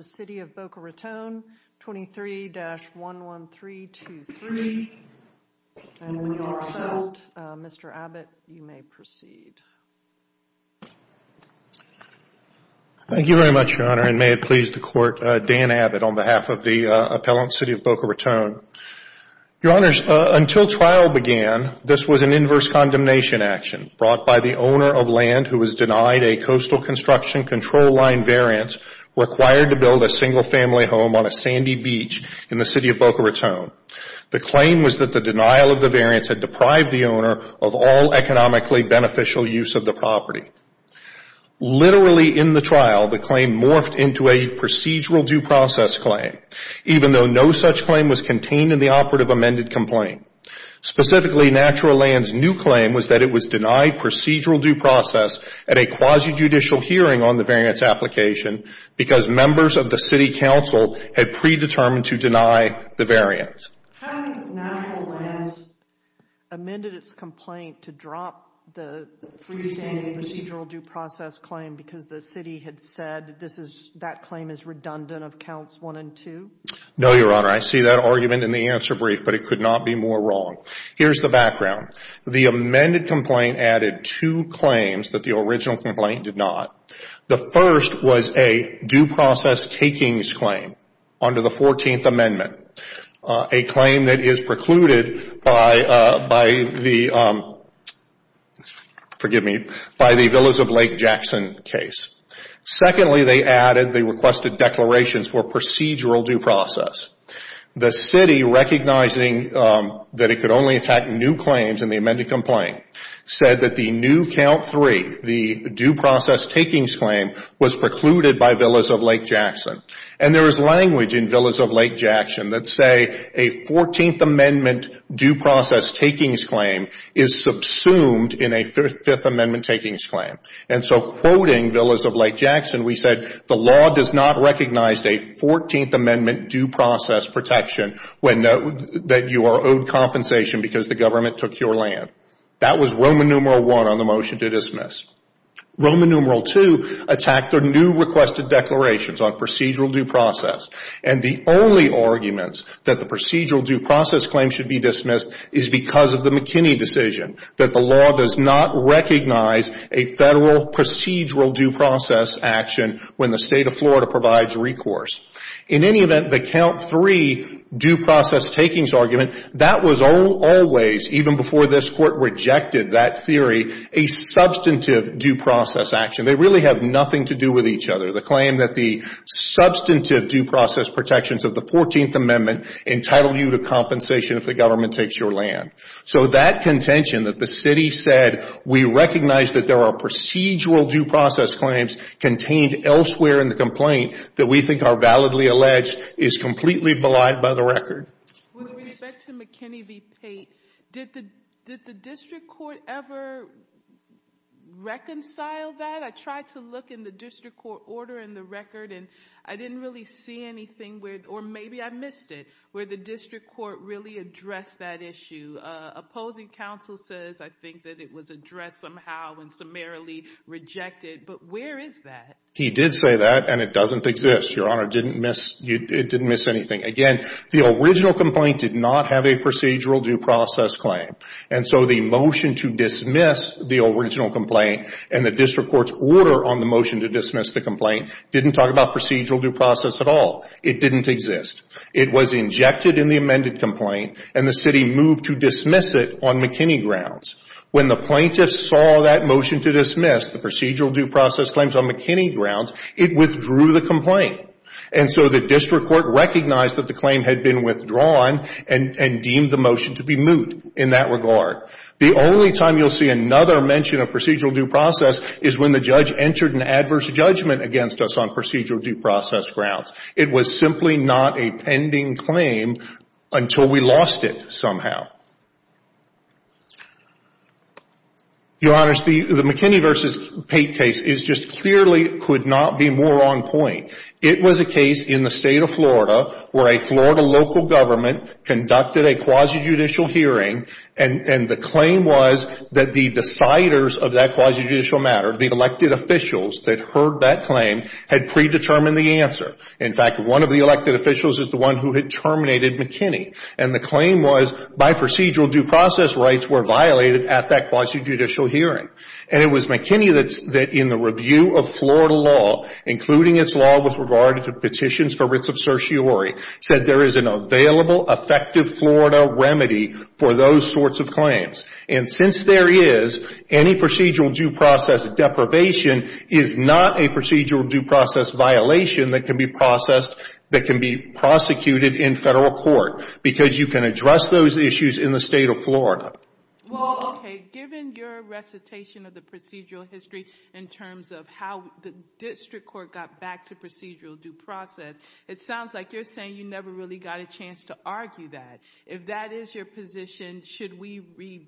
City of Boca Raton, 23-11323. And when you're all set, Mr. Abbott, you may proceed. Thank you very much, Your Honor, and may it please the Court, Dan Abbott, on behalf of the appellant, City of Boca Raton. Your Honors, until trial began, this was an inverse condemnation action brought by the owner of land who was denied a coastal construction control line variance required to build a single family home on a sandy beach in the City of Boca Raton. The claim was that the denial of the variance had deprived the owner of all economically beneficial use of the property. Literally in the trial, the claim morphed into a procedural due process claim, even though no such claim was contained in the operative amended complaint. Specifically, Natural Lands' new claim was that it was denied procedural due process at a quasi-judicial hearing on the variance application because members of the City Council had predetermined to deny the variance. How did Natural Lands amend its complaint to drop the procedural due process claim because the City had said that claim is redundant of counts 1 and 2? No, Your Honor, I see that argument in the answer brief, but it could not be more wrong. Here's the background. The amended complaint added two claims that the original complaint did not. The first was a due process takings claim under the 14th Amendment, a claim that is precluded by the Villas of Lake Jackson case. Secondly, they requested declarations for procedural due process. The City, recognizing that it could only attack new claims in the amended complaint, said that the new count 3, the due process takings claim, was precluded by Villas of Lake Jackson. There is language in Villas of Lake Jackson that say a 14th Amendment due process takings claim is subsumed in a Fifth Amendment takings claim. Quoting Villas of Lake Jackson, we said the law does not recognize a 14th Amendment due process protection when you are owed compensation because the government took your land. That was Roman numeral 1 on the motion to dismiss. Roman numeral 2 attacked the new requested declarations on procedural due process. The only arguments that the procedural due process claim should be dismissed is because of the McKinney decision that the law does not recognize a federal procedural due process action when the State of Florida provides recourse. In any event, the count 3 due process takings argument, that was always, even before this Court rejected that theory, a substantive due process action. They really have nothing to do with each other. The claim that the substantive due process protections of the 14th Amendment entitle you to compensation if the government takes your land. That contention that the city said we recognize that there are procedural due process claims contained elsewhere in the complaint that we think are validly alleged is completely belied by the record. With respect to McKinney v. Pate, did the district court ever reconcile that? I tried to look in the district court order in the record and I didn't really see anything, or maybe I missed it, where the district court really addressed that issue. Opposing counsel says I think that it was addressed somehow and summarily rejected, but where is that? He did say that and it doesn't exist. Your Honor, it didn't miss anything. Again, the original complaint did not have a procedural due process claim, and so the motion to dismiss the original complaint and the district court's order on the motion to dismiss the complaint didn't talk about procedural due process at all. It didn't exist. It was injected in the amended complaint and the city moved to dismiss it on McKinney grounds. When the plaintiffs saw that motion to dismiss the procedural due process claims on McKinney grounds, it withdrew the complaint. And so the district court recognized that the claim had been withdrawn and deemed the motion to be moot in that regard. The only time you'll see another mention of procedural due process is when the judge entered an adverse judgment against us on procedural due process grounds. It was simply not a pending claim until we lost it somehow. Your Honors, the McKinney v. Pate case is just clearly could not be more on point. It was a case in the state of Florida where a Florida local government conducted a quasi-judicial hearing and the claim was that the deciders of that quasi-judicial matter, the elected officials that heard that claim, had predetermined the answer. In fact, one of the elected officials is the one who had terminated McKinney. And the claim was by procedural due process rights were violated at that quasi-judicial hearing. And it was McKinney that in the review of Florida law, including its law with regard to petitions for writs of certiorari, said there is an available, effective Florida remedy for those sorts of claims. And since there is, any procedural due process deprivation is not a procedural due process violation that can be prosecuted in federal court because you can address those issues in the state of Florida. Well, okay, given your recitation of the procedural history in terms of how the district court got back to procedural due process, it sounds like you're saying you never really got a chance to argue that. If that is your position, should we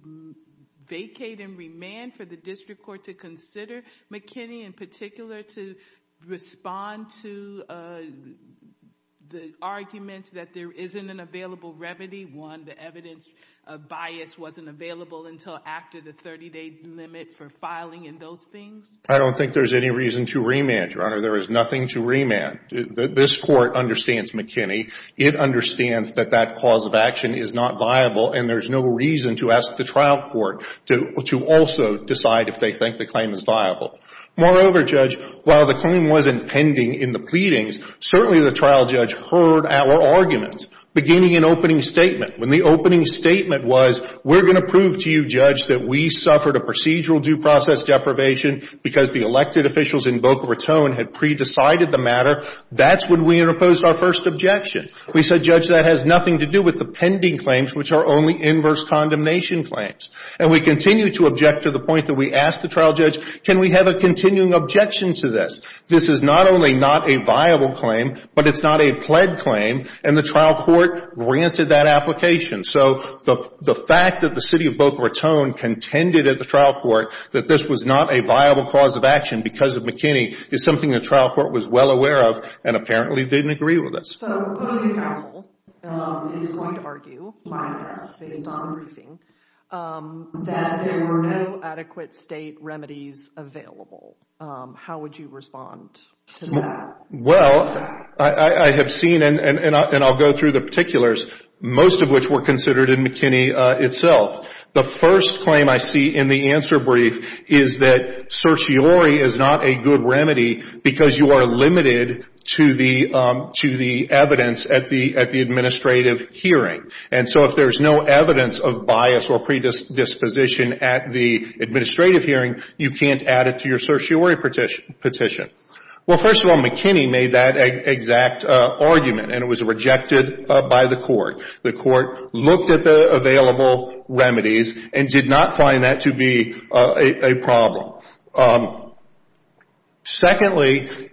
vacate and remand for the district court to consider McKinney in particular to respond to the arguments that there isn't an available remedy? One, the evidence bias wasn't available until after the 30-day limit for filing and those things? I don't think there's any reason to remand, Your Honor. There is nothing to remand. This court understands McKinney. It understands that that cause of action is not viable, and there's no reason to ask the trial court to also decide if they think the claim is viable. Moreover, Judge, while the claim wasn't pending in the pleadings, certainly the trial judge heard our arguments beginning in opening statement. When the opening statement was, we're going to prove to you, Judge, that we suffered a procedural due process deprivation because the elected officials in Boca Raton had pre-decided the matter, that's when we interposed our first objection. We said, Judge, that has nothing to do with the pending claims, which are only inverse condemnation claims. And we continue to object to the point that we asked the trial judge, can we have a continuing objection to this? This is not only not a viable claim, but it's not a pled claim, and the trial court granted that application. So the fact that the city of Boca Raton contended at the trial court that this was not a viable cause of action because of McKinney is something the trial court was well aware of and apparently didn't agree with us. So Boca Raton is going to argue by this, based on the briefing, that there were no adequate state remedies available. How would you respond to that? Well, I have seen, and I'll go through the particulars, most of which were considered in McKinney itself. The first claim I see in the answer brief is that certiorari is not a good remedy because you are limited to the evidence at the administrative hearing. And so if there's no evidence of bias or predisposition at the administrative hearing, you can't add it to your certiorari petition. Well, first of all, McKinney made that exact argument, and it was rejected by the court. The court looked at the available remedies and did not find that to be a problem. Secondly,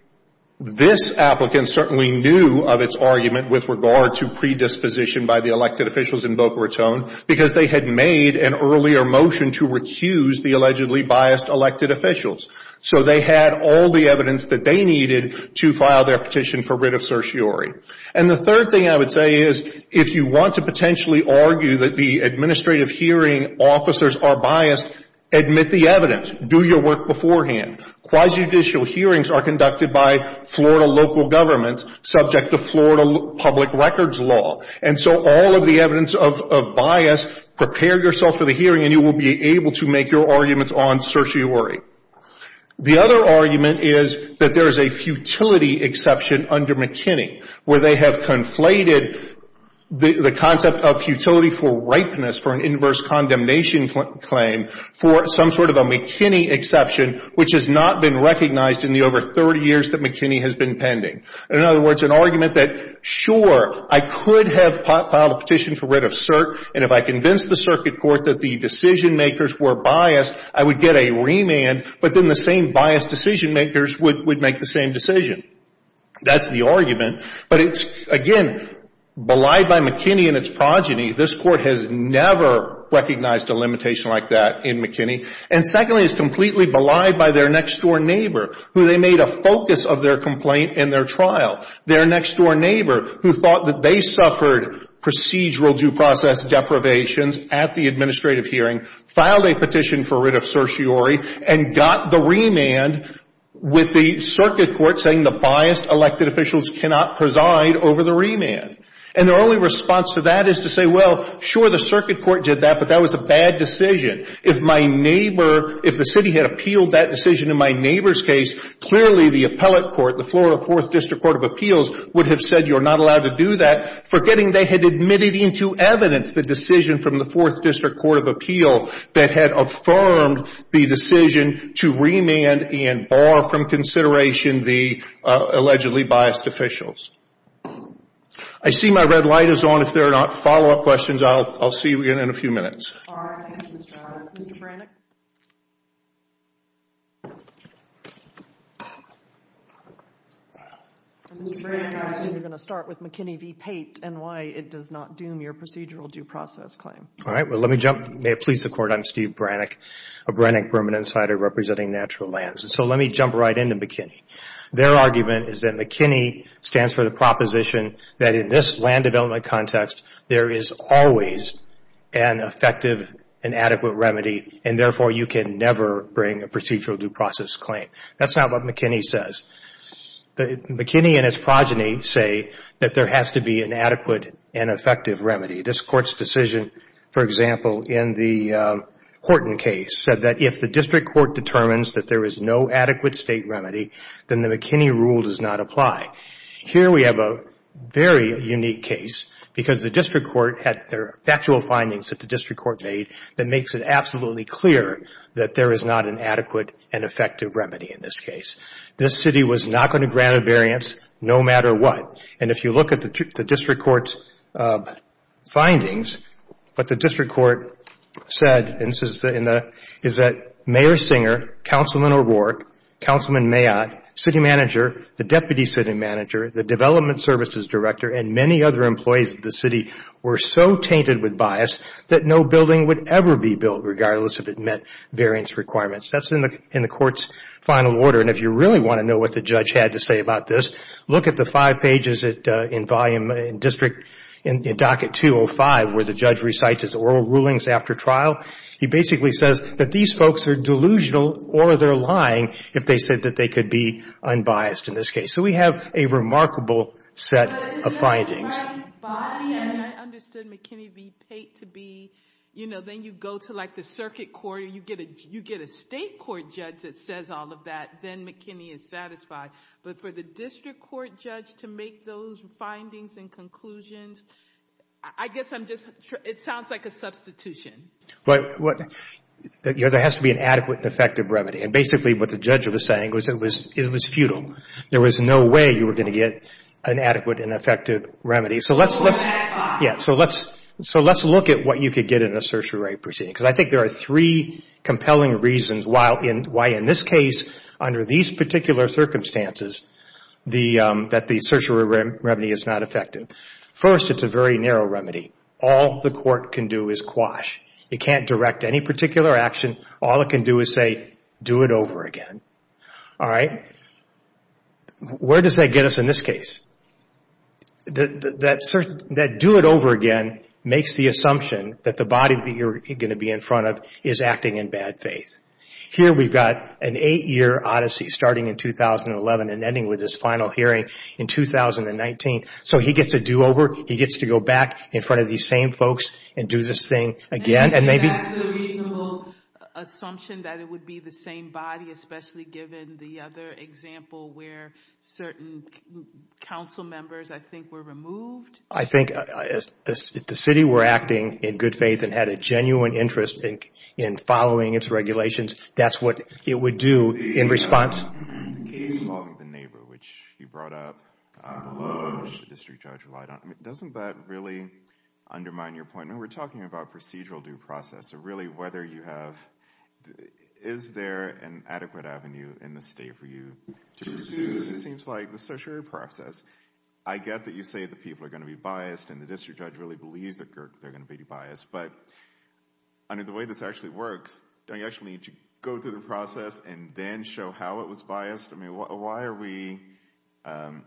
this applicant certainly knew of its argument with regard to predisposition by the elected officials in Boca Raton because they had made an earlier motion to recuse the allegedly biased elected officials. So they had all the evidence that they needed to file their petition for writ of certiorari. And the third thing I would say is if you want to potentially argue that the administrative hearing officers are biased, admit the evidence. Do your work beforehand. Quasi-judicial hearings are conducted by Florida local governments subject to Florida public records law. And so all of the evidence of bias, prepare yourself for the hearing, and you will be able to make your arguments on certiorari. The other argument is that there is a futility exception under McKinney where they have conflated the concept of futility for ripeness for an inverse condemnation claim for some sort of a McKinney exception which has not been recognized in the over 30 years that McKinney has been pending. In other words, an argument that sure, I could have filed a petition for writ of cert and if I convinced the circuit court that the decision makers were biased, I would get a remand, but then the same biased decision makers would make the same decision. That's the argument. But it's, again, belied by McKinney and its progeny. This court has never recognized a limitation like that in McKinney. And secondly, it's completely belied by their next-door neighbor who they made a focus of their complaint in their trial. Their next-door neighbor who thought that they suffered procedural due process deprivations at the administrative hearing filed a petition for writ of certiorari and got the remand with the circuit court saying the biased elected officials cannot preside over the remand. And their only response to that is to say, well, sure, the circuit court did that, but that was a bad decision. If my neighbor, if the city had appealed that decision in my neighbor's case, clearly the appellate court, the Florida 4th District Court of Appeals, would have said you're not allowed to do that, forgetting they had admitted into evidence the decision from the 4th District Court of Appeal that had affirmed the decision to remand and bar from consideration the allegedly biased officials. I see my red light is on. If there are not follow-up questions, I'll see you again in a few minutes. All right. Thank you, Mr. Brown. Mr. Brannick? Mr. Brannick, I assume you're going to start with McKinney v. Pate and why it does not doom your procedural due process claim. All right. Well, let me jump, may it please the Court, I'm Steve Brannick, a Brannick permanent insider representing natural lands. And so let me jump right into McKinney. Their argument is that McKinney stands for the proposition that in this land development context, there is always an effective and adequate remedy, and therefore you can never bring a procedural due process claim. That's not what McKinney says. McKinney and his progeny say that there has to be an adequate and effective remedy. This Court's decision, for example, in the Horton case, said that if the district court determines that there is no adequate state remedy, then the McKinney rule does not apply. Here we have a very unique case because the district court had their factual findings that the district court made that makes it absolutely clear that there is not an adequate and effective remedy in this case. This city was not going to grant a variance no matter what. And if you look at the district court's findings, what the district court said is that Mayor Singer, Councilman O'Rourke, Councilman Mayotte, city manager, the deputy city manager, the development services director, and many other employees of the city were so tainted with bias that no building would ever be built regardless if it met variance requirements. That's in the court's final order. And if you really want to know what the judge had to say about this, look at the five pages in Docket 205 where the judge recites his oral rulings after trial. He basically says that these folks are delusional or they're lying if they said that they could be unbiased in this case. So we have a remarkable set of findings. I understood McKinney v. Pate to be, you know, then you go to like the circuit court and you get a state court judge that says all of that, then McKinney is satisfied. But for the district court judge to make those findings and conclusions, I guess I'm just, it sounds like a substitution. There has to be an adequate and effective remedy. And basically what the judge was saying was it was futile. There was no way you were going to get an adequate and effective remedy. So let's look at what you could get in a certiorari proceeding. Because I think there are three compelling reasons why in this case, under these particular circumstances, that the certiorari remedy is not effective. First, it's a very narrow remedy. All the court can do is quash. It can't direct any particular action. All it can do is say, do it over again. All right. Where does that get us in this case? That do it over again makes the assumption that the body that you're going to be in front of is acting in bad faith. Here we've got an eight-year odyssey starting in 2011 and ending with this final hearing in 2019. So he gets a do over. He gets to go back in front of these same folks and do this thing again. And maybe that's the reasonable assumption that it would be the same body, especially given the other example where certain council members, I think, were removed. I think if the city were acting in good faith and had a genuine interest in following its regulations, that's what it would do in response. The case involving the neighbor, which you brought up, the district judge relied on. Doesn't that really undermine your point? We're talking about procedural due process. So really whether you have, is there an adequate avenue in the state for you to pursue this? It seems like the certiorari process, I get that you say that people are going to be biased and the district judge really believes that they're going to be biased. But under the way this actually works, do I actually need to go through the process and then show how it was biased? Why are we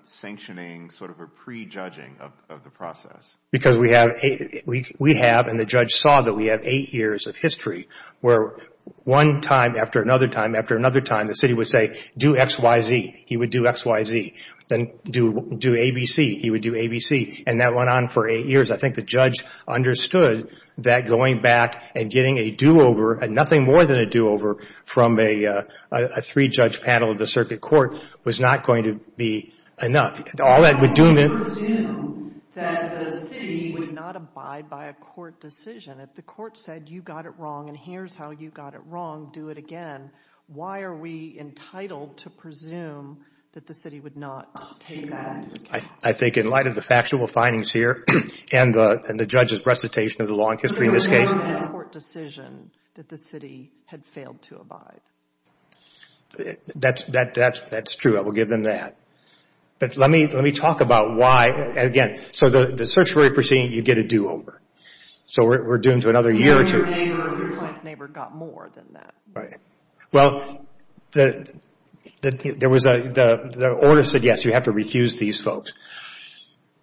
sanctioning sort of a prejudging of the process? Because we have and the judge saw that we have eight years of history where one time after another time after another time, the city would say do X, Y, Z. He would do X, Y, Z. Then do A, B, C. He would do A, B, C. And that went on for eight years. I think the judge understood that going back and getting a do-over, nothing more than a do-over from a three-judge panel of the circuit court was not going to be enough. If we presume that the city would not abide by a court decision, if the court said you got it wrong and here's how you got it wrong, do it again, why are we entitled to presume that the city would not take that? I think in light of the factual findings here and the judge's recitation of the law and history in this case. If we presume in a court decision that the city had failed to abide. That's true. I will give them that. But let me talk about why, again, so the certiorari proceeding, you get a do-over. So we're doomed to another year or two. Your neighbor's neighbor got more than that. Right. Well, the order said, yes, you have to recuse these folks.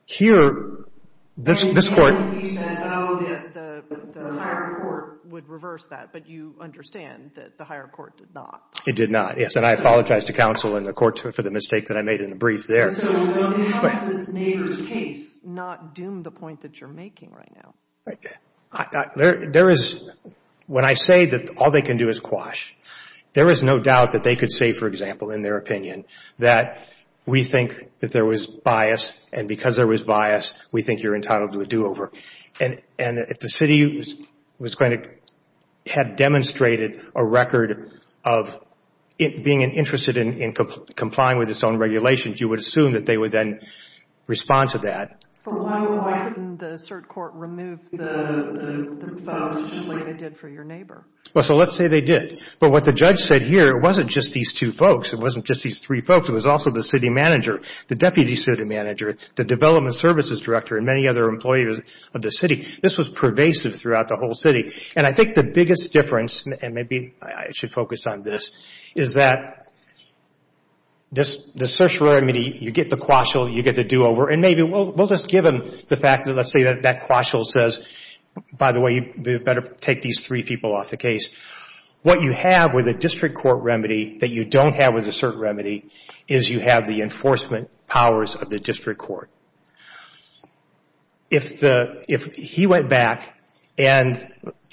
Here, this court. You said, oh, the higher court would reverse that, but you understand that the higher court did not. It did not, yes. And I apologize to counsel and the court for the mistake that I made in the brief there. So how has this neighbor's case not doomed the point that you're making right now? There is, when I say that all they can do is quash, there is no doubt that they could say, for example, in their opinion, that we think that there was bias and because there was bias, we think you're entitled to a do-over. And if the city had demonstrated a record of being interested in complying with its own regulations, you would assume that they would then respond to that. But why couldn't the cert court remove the folks like they did for your neighbor? Well, so let's say they did. But what the judge said here, it wasn't just these two folks. It wasn't just these three folks. It was also the city manager, the deputy city manager, the development services director, and many other employers of the city. This was pervasive throughout the whole city. And I think the biggest difference, and maybe I should focus on this, is that the cert remedy, you get the quash, you get the do-over, and maybe we'll just give them the fact that let's say that quash says, by the way, you better take these three people off the case. What you have with a district court remedy that you don't have with a cert remedy is you have the enforcement powers of the district court. If he went back and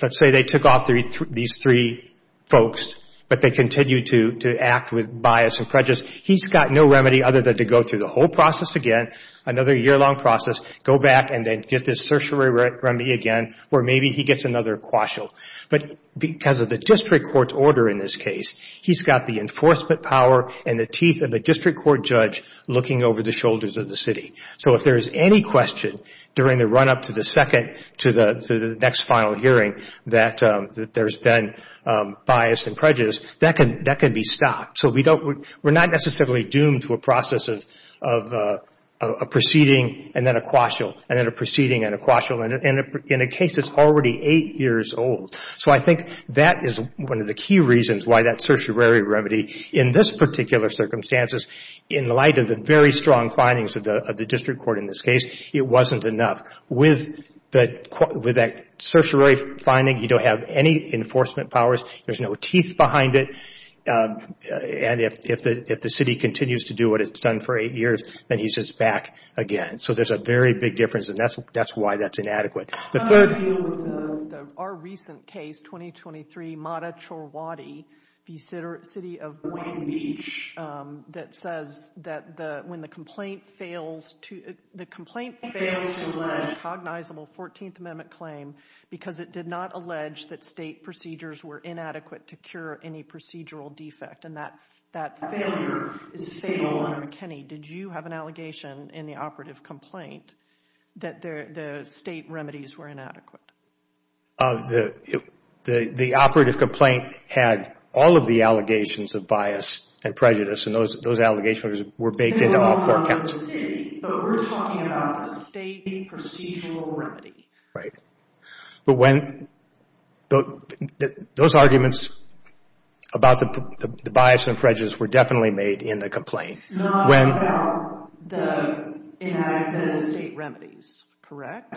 let's say they took off these three folks, but they continued to act with bias and prejudice, he's got no remedy other than to go through the whole process again, another year-long process, go back and then get this cert remedy again, or maybe he gets another quash. But because of the district court's order in this case, he's got the enforcement power and the teeth of the district court judge looking over the shoulders of the city. So if there is any question during the run-up to the next final hearing that there's been bias and prejudice, that can be stopped. So we're not necessarily doomed to a process of a proceeding and then a quashial, and then a proceeding and a quashial, and in a case that's already eight years old. So I think that is one of the key reasons why that certiorari remedy, in this particular circumstances, in light of the very strong findings of the district court in this case, it wasn't enough. With that certiorari finding, you don't have any enforcement powers, there's no teeth behind it, and if the city continues to do what it's done for eight years, then he's just back again. So there's a very big difference, and that's why that's inadequate. I want to deal with our recent case, 2023, Mata Chorwadi, the city of Wayne Beach, that says that when the complaint fails to lead a cognizable 14th Amendment claim because it did not allege that state procedures were inadequate to cure any procedural defect, and that failure is fatal under McKinney. Did you have an allegation in the operative complaint that the state remedies were inadequate? The operative complaint had all of the allegations of bias and prejudice, and those allegations were baked into all four counts. But we're talking about the state procedural remedy. Right. But those arguments about the bias and prejudice were definitely made in the complaint. Not about the state remedies, correct?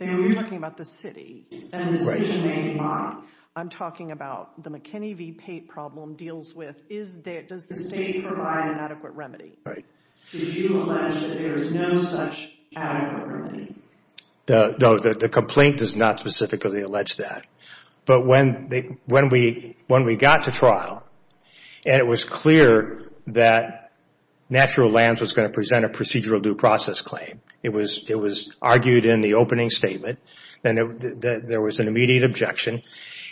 You're talking about the city, and the decision-making body. I'm talking about the McKinney v. Pate problem deals with does the state provide an adequate remedy? Right. Did you allege that there is no such adequate remedy? No, the complaint does not specifically allege that. But when we got to trial, and it was clear that Natural Lands was going to present a procedural due process claim. It was argued in the opening statement, and there was an immediate objection,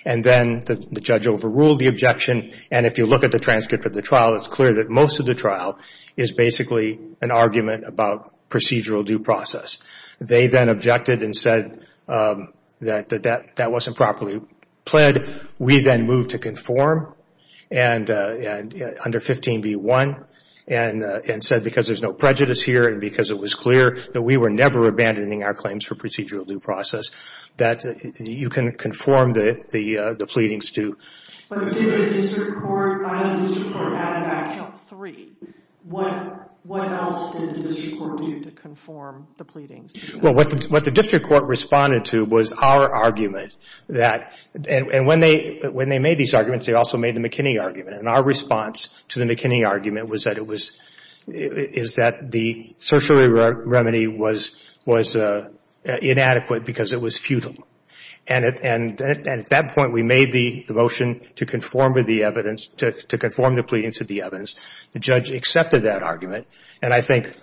and then the judge overruled the objection. And if you look at the transcript of the trial, it's clear that most of the trial is basically an argument about procedural due process. They then objected and said that that wasn't properly pled. We then moved to conform under 15b-1, and said because there's no prejudice here, and because it was clear that we were never abandoning our claims for procedural due process, that you can conform the pleadings to. But did the district court, I know the district court added that count three. What else did the district court do to conform the pleadings? Well, what the district court responded to was our argument that, and when they made these arguments, they also made the McKinney argument. And our response to the McKinney argument was that it was, is that the social remedy was inadequate because it was futile. And at that point, we made the motion to conform to the evidence, to conform the pleadings to the evidence. The judge accepted that argument, and I think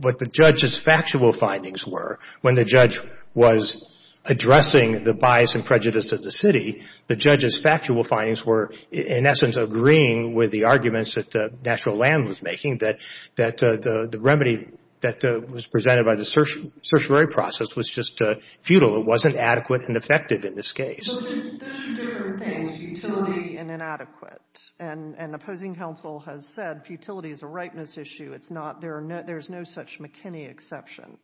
what the judge's factual findings were, when the judge was addressing the bias and prejudice of the city, the judge's factual findings were, in essence, agreeing with the arguments that Natural Land was making, that the remedy that was presented by the certiorari process was just futile. It wasn't adequate and effective in this case. So there's two different things, futility and inadequate. And opposing counsel has said futility is a rightness issue. It's not, there's no such McKinney exception.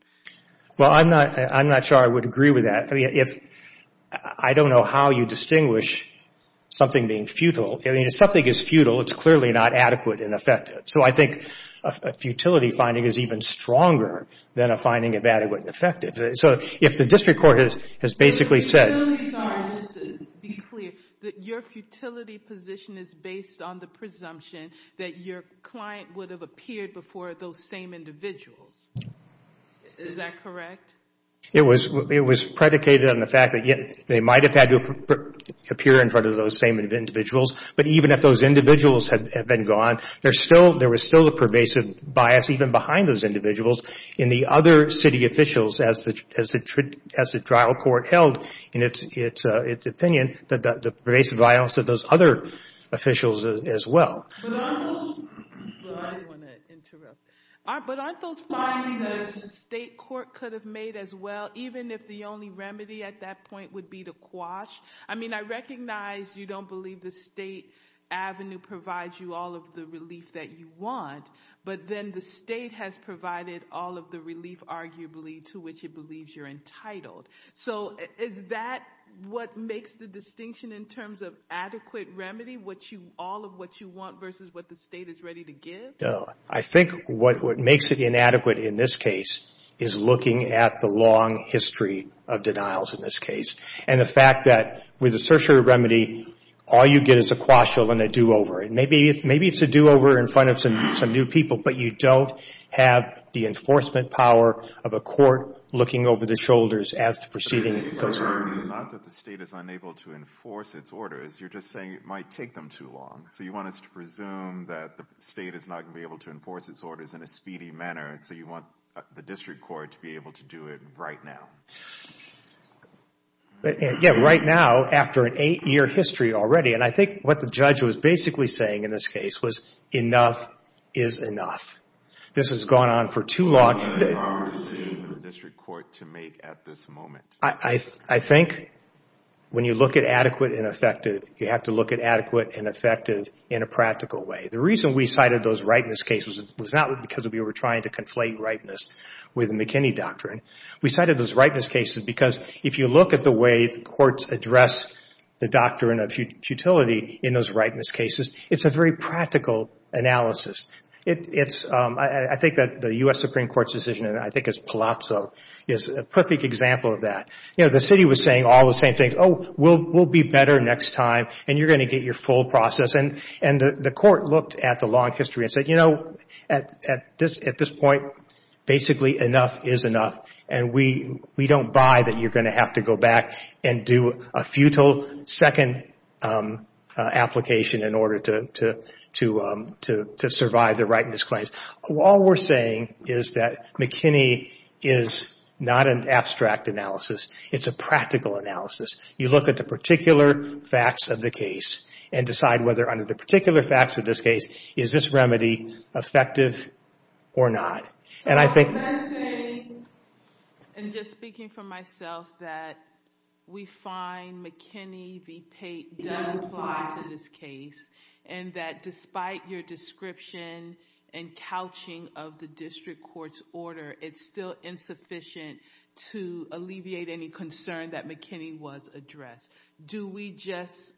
Well, I'm not sure I would agree with that. I don't know how you distinguish something being futile. I mean, if something is futile, it's clearly not adequate and effective. So I think a futility finding is even stronger than a finding of adequate and effective. So if the district court has basically said— I'm really sorry, just to be clear, that your futility position is based on the presumption that your client would have appeared before those same individuals. Is that correct? It was predicated on the fact that they might have had to appear in front of those same individuals. But even if those individuals had been gone, there was still a pervasive bias even behind those individuals in the other city officials as the trial court held in its opinion, the pervasive bias of those other officials as well. Well, I didn't want to interrupt. But aren't those findings that a state court could have made as well, even if the only remedy at that point would be to quash? I mean, I recognize you don't believe the state avenue provides you all of the relief that you want, but then the state has provided all of the relief, arguably, to which it believes you're entitled. So is that what makes the distinction in terms of adequate remedy, all of what you want versus what the state is ready to give? No. I think what makes it inadequate in this case is looking at the long history of denials in this case and the fact that with a certiorari remedy, all you get is a quash and a do-over. Maybe it's a do-over in front of some new people, but you don't have the enforcement power of a court looking over the shoulders as the proceeding goes on. It's not that the state is unable to enforce its orders. You're just saying it might take them too long. So you want us to presume that the state is not going to be able to enforce its orders in a speedy manner, so you want the district court to be able to do it right now? Yeah, right now after an eight-year history already. And I think what the judge was basically saying in this case was enough is enough. This has gone on for too long. What is the decision for the district court to make at this moment? I think when you look at adequate and effective, you have to look at adequate and effective in a practical way. The reason we cited those rightness cases was not because we were trying to conflate rightness with McKinney doctrine. We cited those rightness cases because if you look at the way the courts address the doctrine of futility in those rightness cases, it's a very practical analysis. I think that the U.S. Supreme Court's decision, and I think it's Palazzo, is a perfect example of that. The city was saying all the same things. Oh, we'll be better next time, and you're going to get your full process. And the court looked at the long history and said, you know, at this point, basically enough is enough, and we don't buy that you're going to have to go back and do a futile second application in order to survive the rightness claims. All we're saying is that McKinney is not an abstract analysis. It's a practical analysis. You look at the particular facts of the case and decide whether under the particular facts of this case, is this remedy effective or not. So I'm just saying, and just speaking for myself, that we find McKinney v. Pate does apply to this case, and that despite your description and couching of the district court's order, it's still insufficient to alleviate any concern that McKinney was addressed. Do we just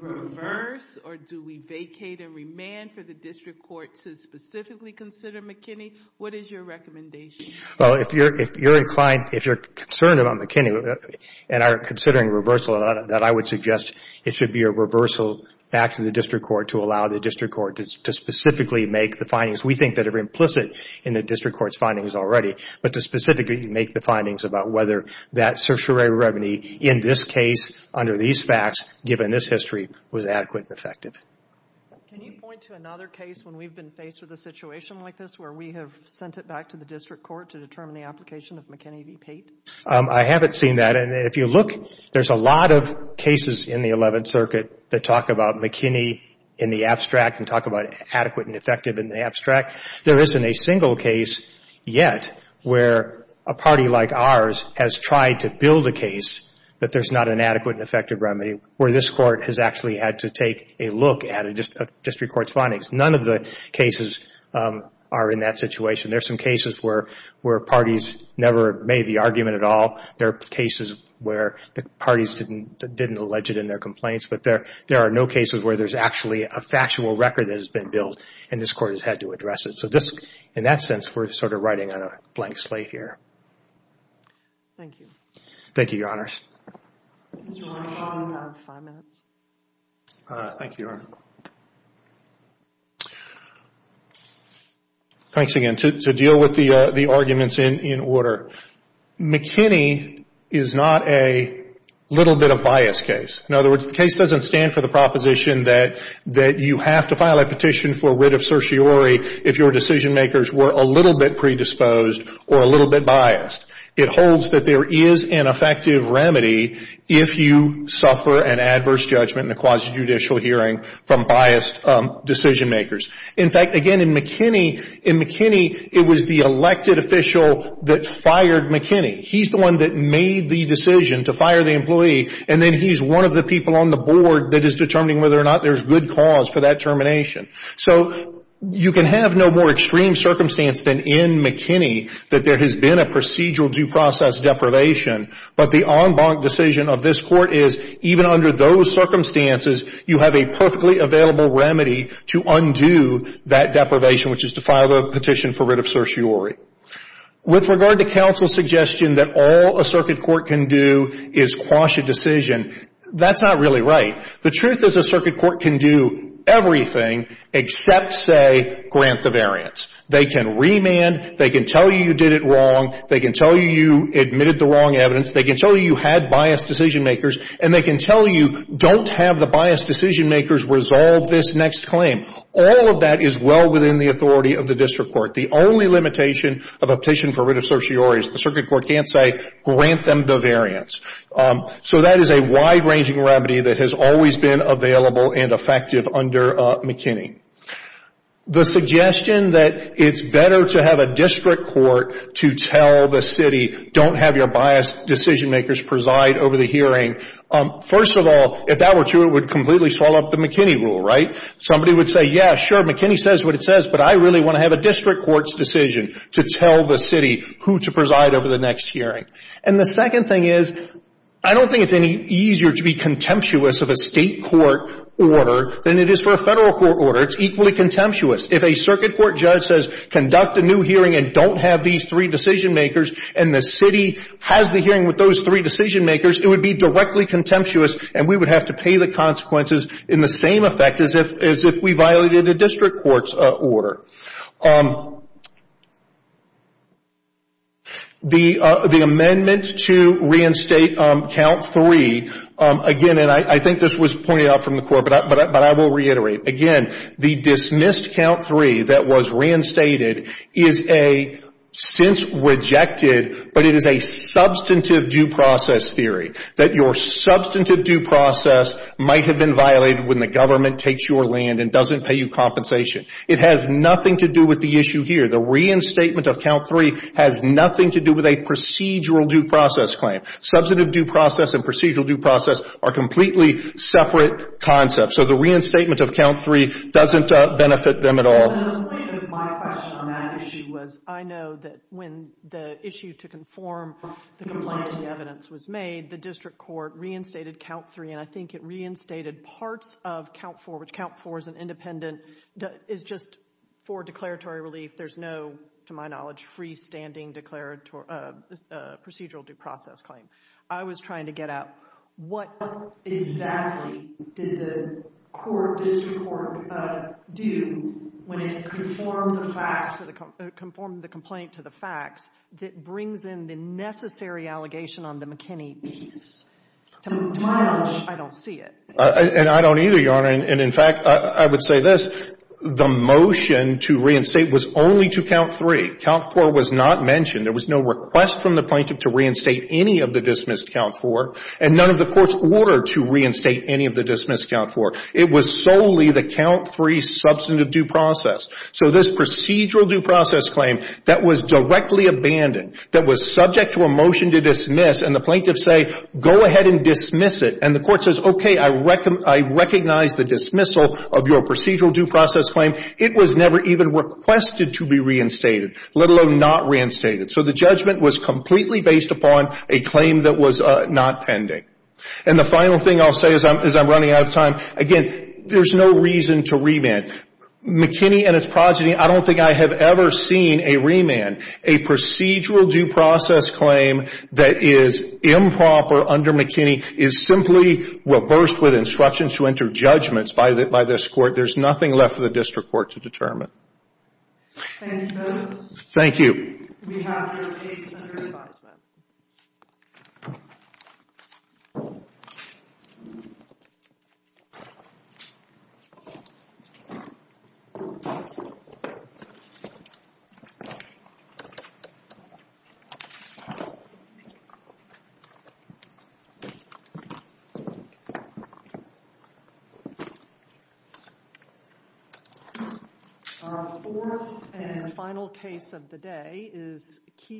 reverse, or do we vacate and remand for the district court to specifically consider McKinney? What is your recommendation? Well, if you're concerned about McKinney and are considering reversal, then I would suggest it should be a reversal back to the district court to allow the district court to specifically make the findings. We think that are implicit in the district court's findings already, but to specifically make the findings about whether that certiorari remedy in this case, under these facts, given this history, was adequate and effective. Can you point to another case when we've been faced with a situation like this where we have sent it back to the district court to determine the application of McKinney v. Pate? I haven't seen that. And if you look, there's a lot of cases in the Eleventh Circuit that talk about McKinney in the abstract and talk about adequate and effective in the abstract. There isn't a single case yet where a party like ours has tried to build a case that there's not an adequate and effective remedy where this Court has actually had to take a look at a district court's findings. None of the cases are in that situation. There are some cases where parties never made the argument at all. There are cases where the parties didn't allege it in their complaints. But there are no cases where there's actually a factual record that has been built and this Court has had to address it. So in that sense, we're sort of riding on a blank slate here. Thank you. Thank you, Your Honors. Mr. Long. You have five minutes. Thank you, Your Honor. Thanks again. To deal with the arguments in order, McKinney is not a little bit of bias case. In other words, the case doesn't stand for the proposition that you have to file a petition for writ of certiorari if your decision-makers were a little bit predisposed or a little bit biased. It holds that there is an effective remedy if you suffer an adverse judgment in a quasi-judicial hearing from biased decision-makers. In fact, again, in McKinney, it was the elected official that fired McKinney. He's the one that made the decision to fire the employee, and then he's one of the people on the board that is determining whether or not there's good cause for that termination. So you can have no more extreme circumstance than in McKinney that there has been a procedural due process deprivation, but the en banc decision of this Court is even under those circumstances, you have a perfectly available remedy to undo that deprivation, which is to file a petition for writ of certiorari. With regard to counsel's suggestion that all a circuit court can do is quash a decision, that's not really right. The truth is a circuit court can do everything except, say, grant the variance. They can remand. They can tell you you did it wrong. They can tell you you admitted the wrong evidence. They can tell you you had biased decision-makers, and they can tell you don't have the biased decision-makers resolve this next claim. All of that is well within the authority of the district court. The only limitation of a petition for writ of certiorari is the circuit court can't say grant them the variance. So that is a wide-ranging remedy that has always been available and effective under McKinney. The suggestion that it's better to have a district court to tell the city, don't have your biased decision-makers preside over the hearing, first of all, if that were true, it would completely swallow up the McKinney rule, right? Somebody would say, yeah, sure, McKinney says what it says, but I really want to have a district court's decision to tell the city who to preside over the next hearing. And the second thing is I don't think it's any easier to be contemptuous of a state court order than it is for a federal court order. It's equally contemptuous. If a circuit court judge says conduct a new hearing and don't have these three decision-makers and the city has the hearing with those three decision-makers, it would be directly contemptuous, and we would have to pay the consequences in the same effect as if we violated a district court's order. The amendment to reinstate count three, again, and I think this was pointed out from the court, but I will reiterate. Again, the dismissed count three that was reinstated is a since rejected, but it is a substantive due process theory that your substantive due process might have been violated when the government takes your land and doesn't pay you compensation. It has nothing to do with the issue here. The reinstatement of count three has nothing to do with a procedural due process claim. Substantive due process and procedural due process are completely separate concepts, so the reinstatement of count three doesn't benefit them at all. The point of my question on that issue was I know that when the issue to conform the complaint to the evidence was made, the district court reinstated count three, and I think it reinstated parts of count four, which count four is an independent, is just for declaratory relief. There's no, to my knowledge, freestanding procedural due process claim. I was trying to get at what exactly did the court, district court, do when it conformed the facts, conformed the complaint to the facts that brings in the necessary allegation on the McKinney piece? To my knowledge, I don't see it. And I don't either, Your Honor, and in fact, I would say this. The motion to reinstate was only to count three. Count four was not mentioned. There was no request from the plaintiff to reinstate any of the dismissed count four, and none of the courts ordered to reinstate any of the dismissed count four. It was solely the count three substantive due process. So this procedural due process claim that was directly abandoned, that was subject to a motion to dismiss, and the plaintiffs say, go ahead and dismiss it, and the court says, okay, I recognize the dismissal of your procedural due process claim, it was never even requested to be reinstated, let alone not reinstated. So the judgment was completely based upon a claim that was not pending. And the final thing I'll say as I'm running out of time, again, there's no reason to remand. McKinney and its progeny, I don't think I have ever seen a remand, a procedural due process claim that is improper under McKinney, is simply reversed with instructions to enter judgments by this court. There's nothing left for the district court to determine. Thank you. We have your case under advisement. Our fourth and final case of the day is Keith.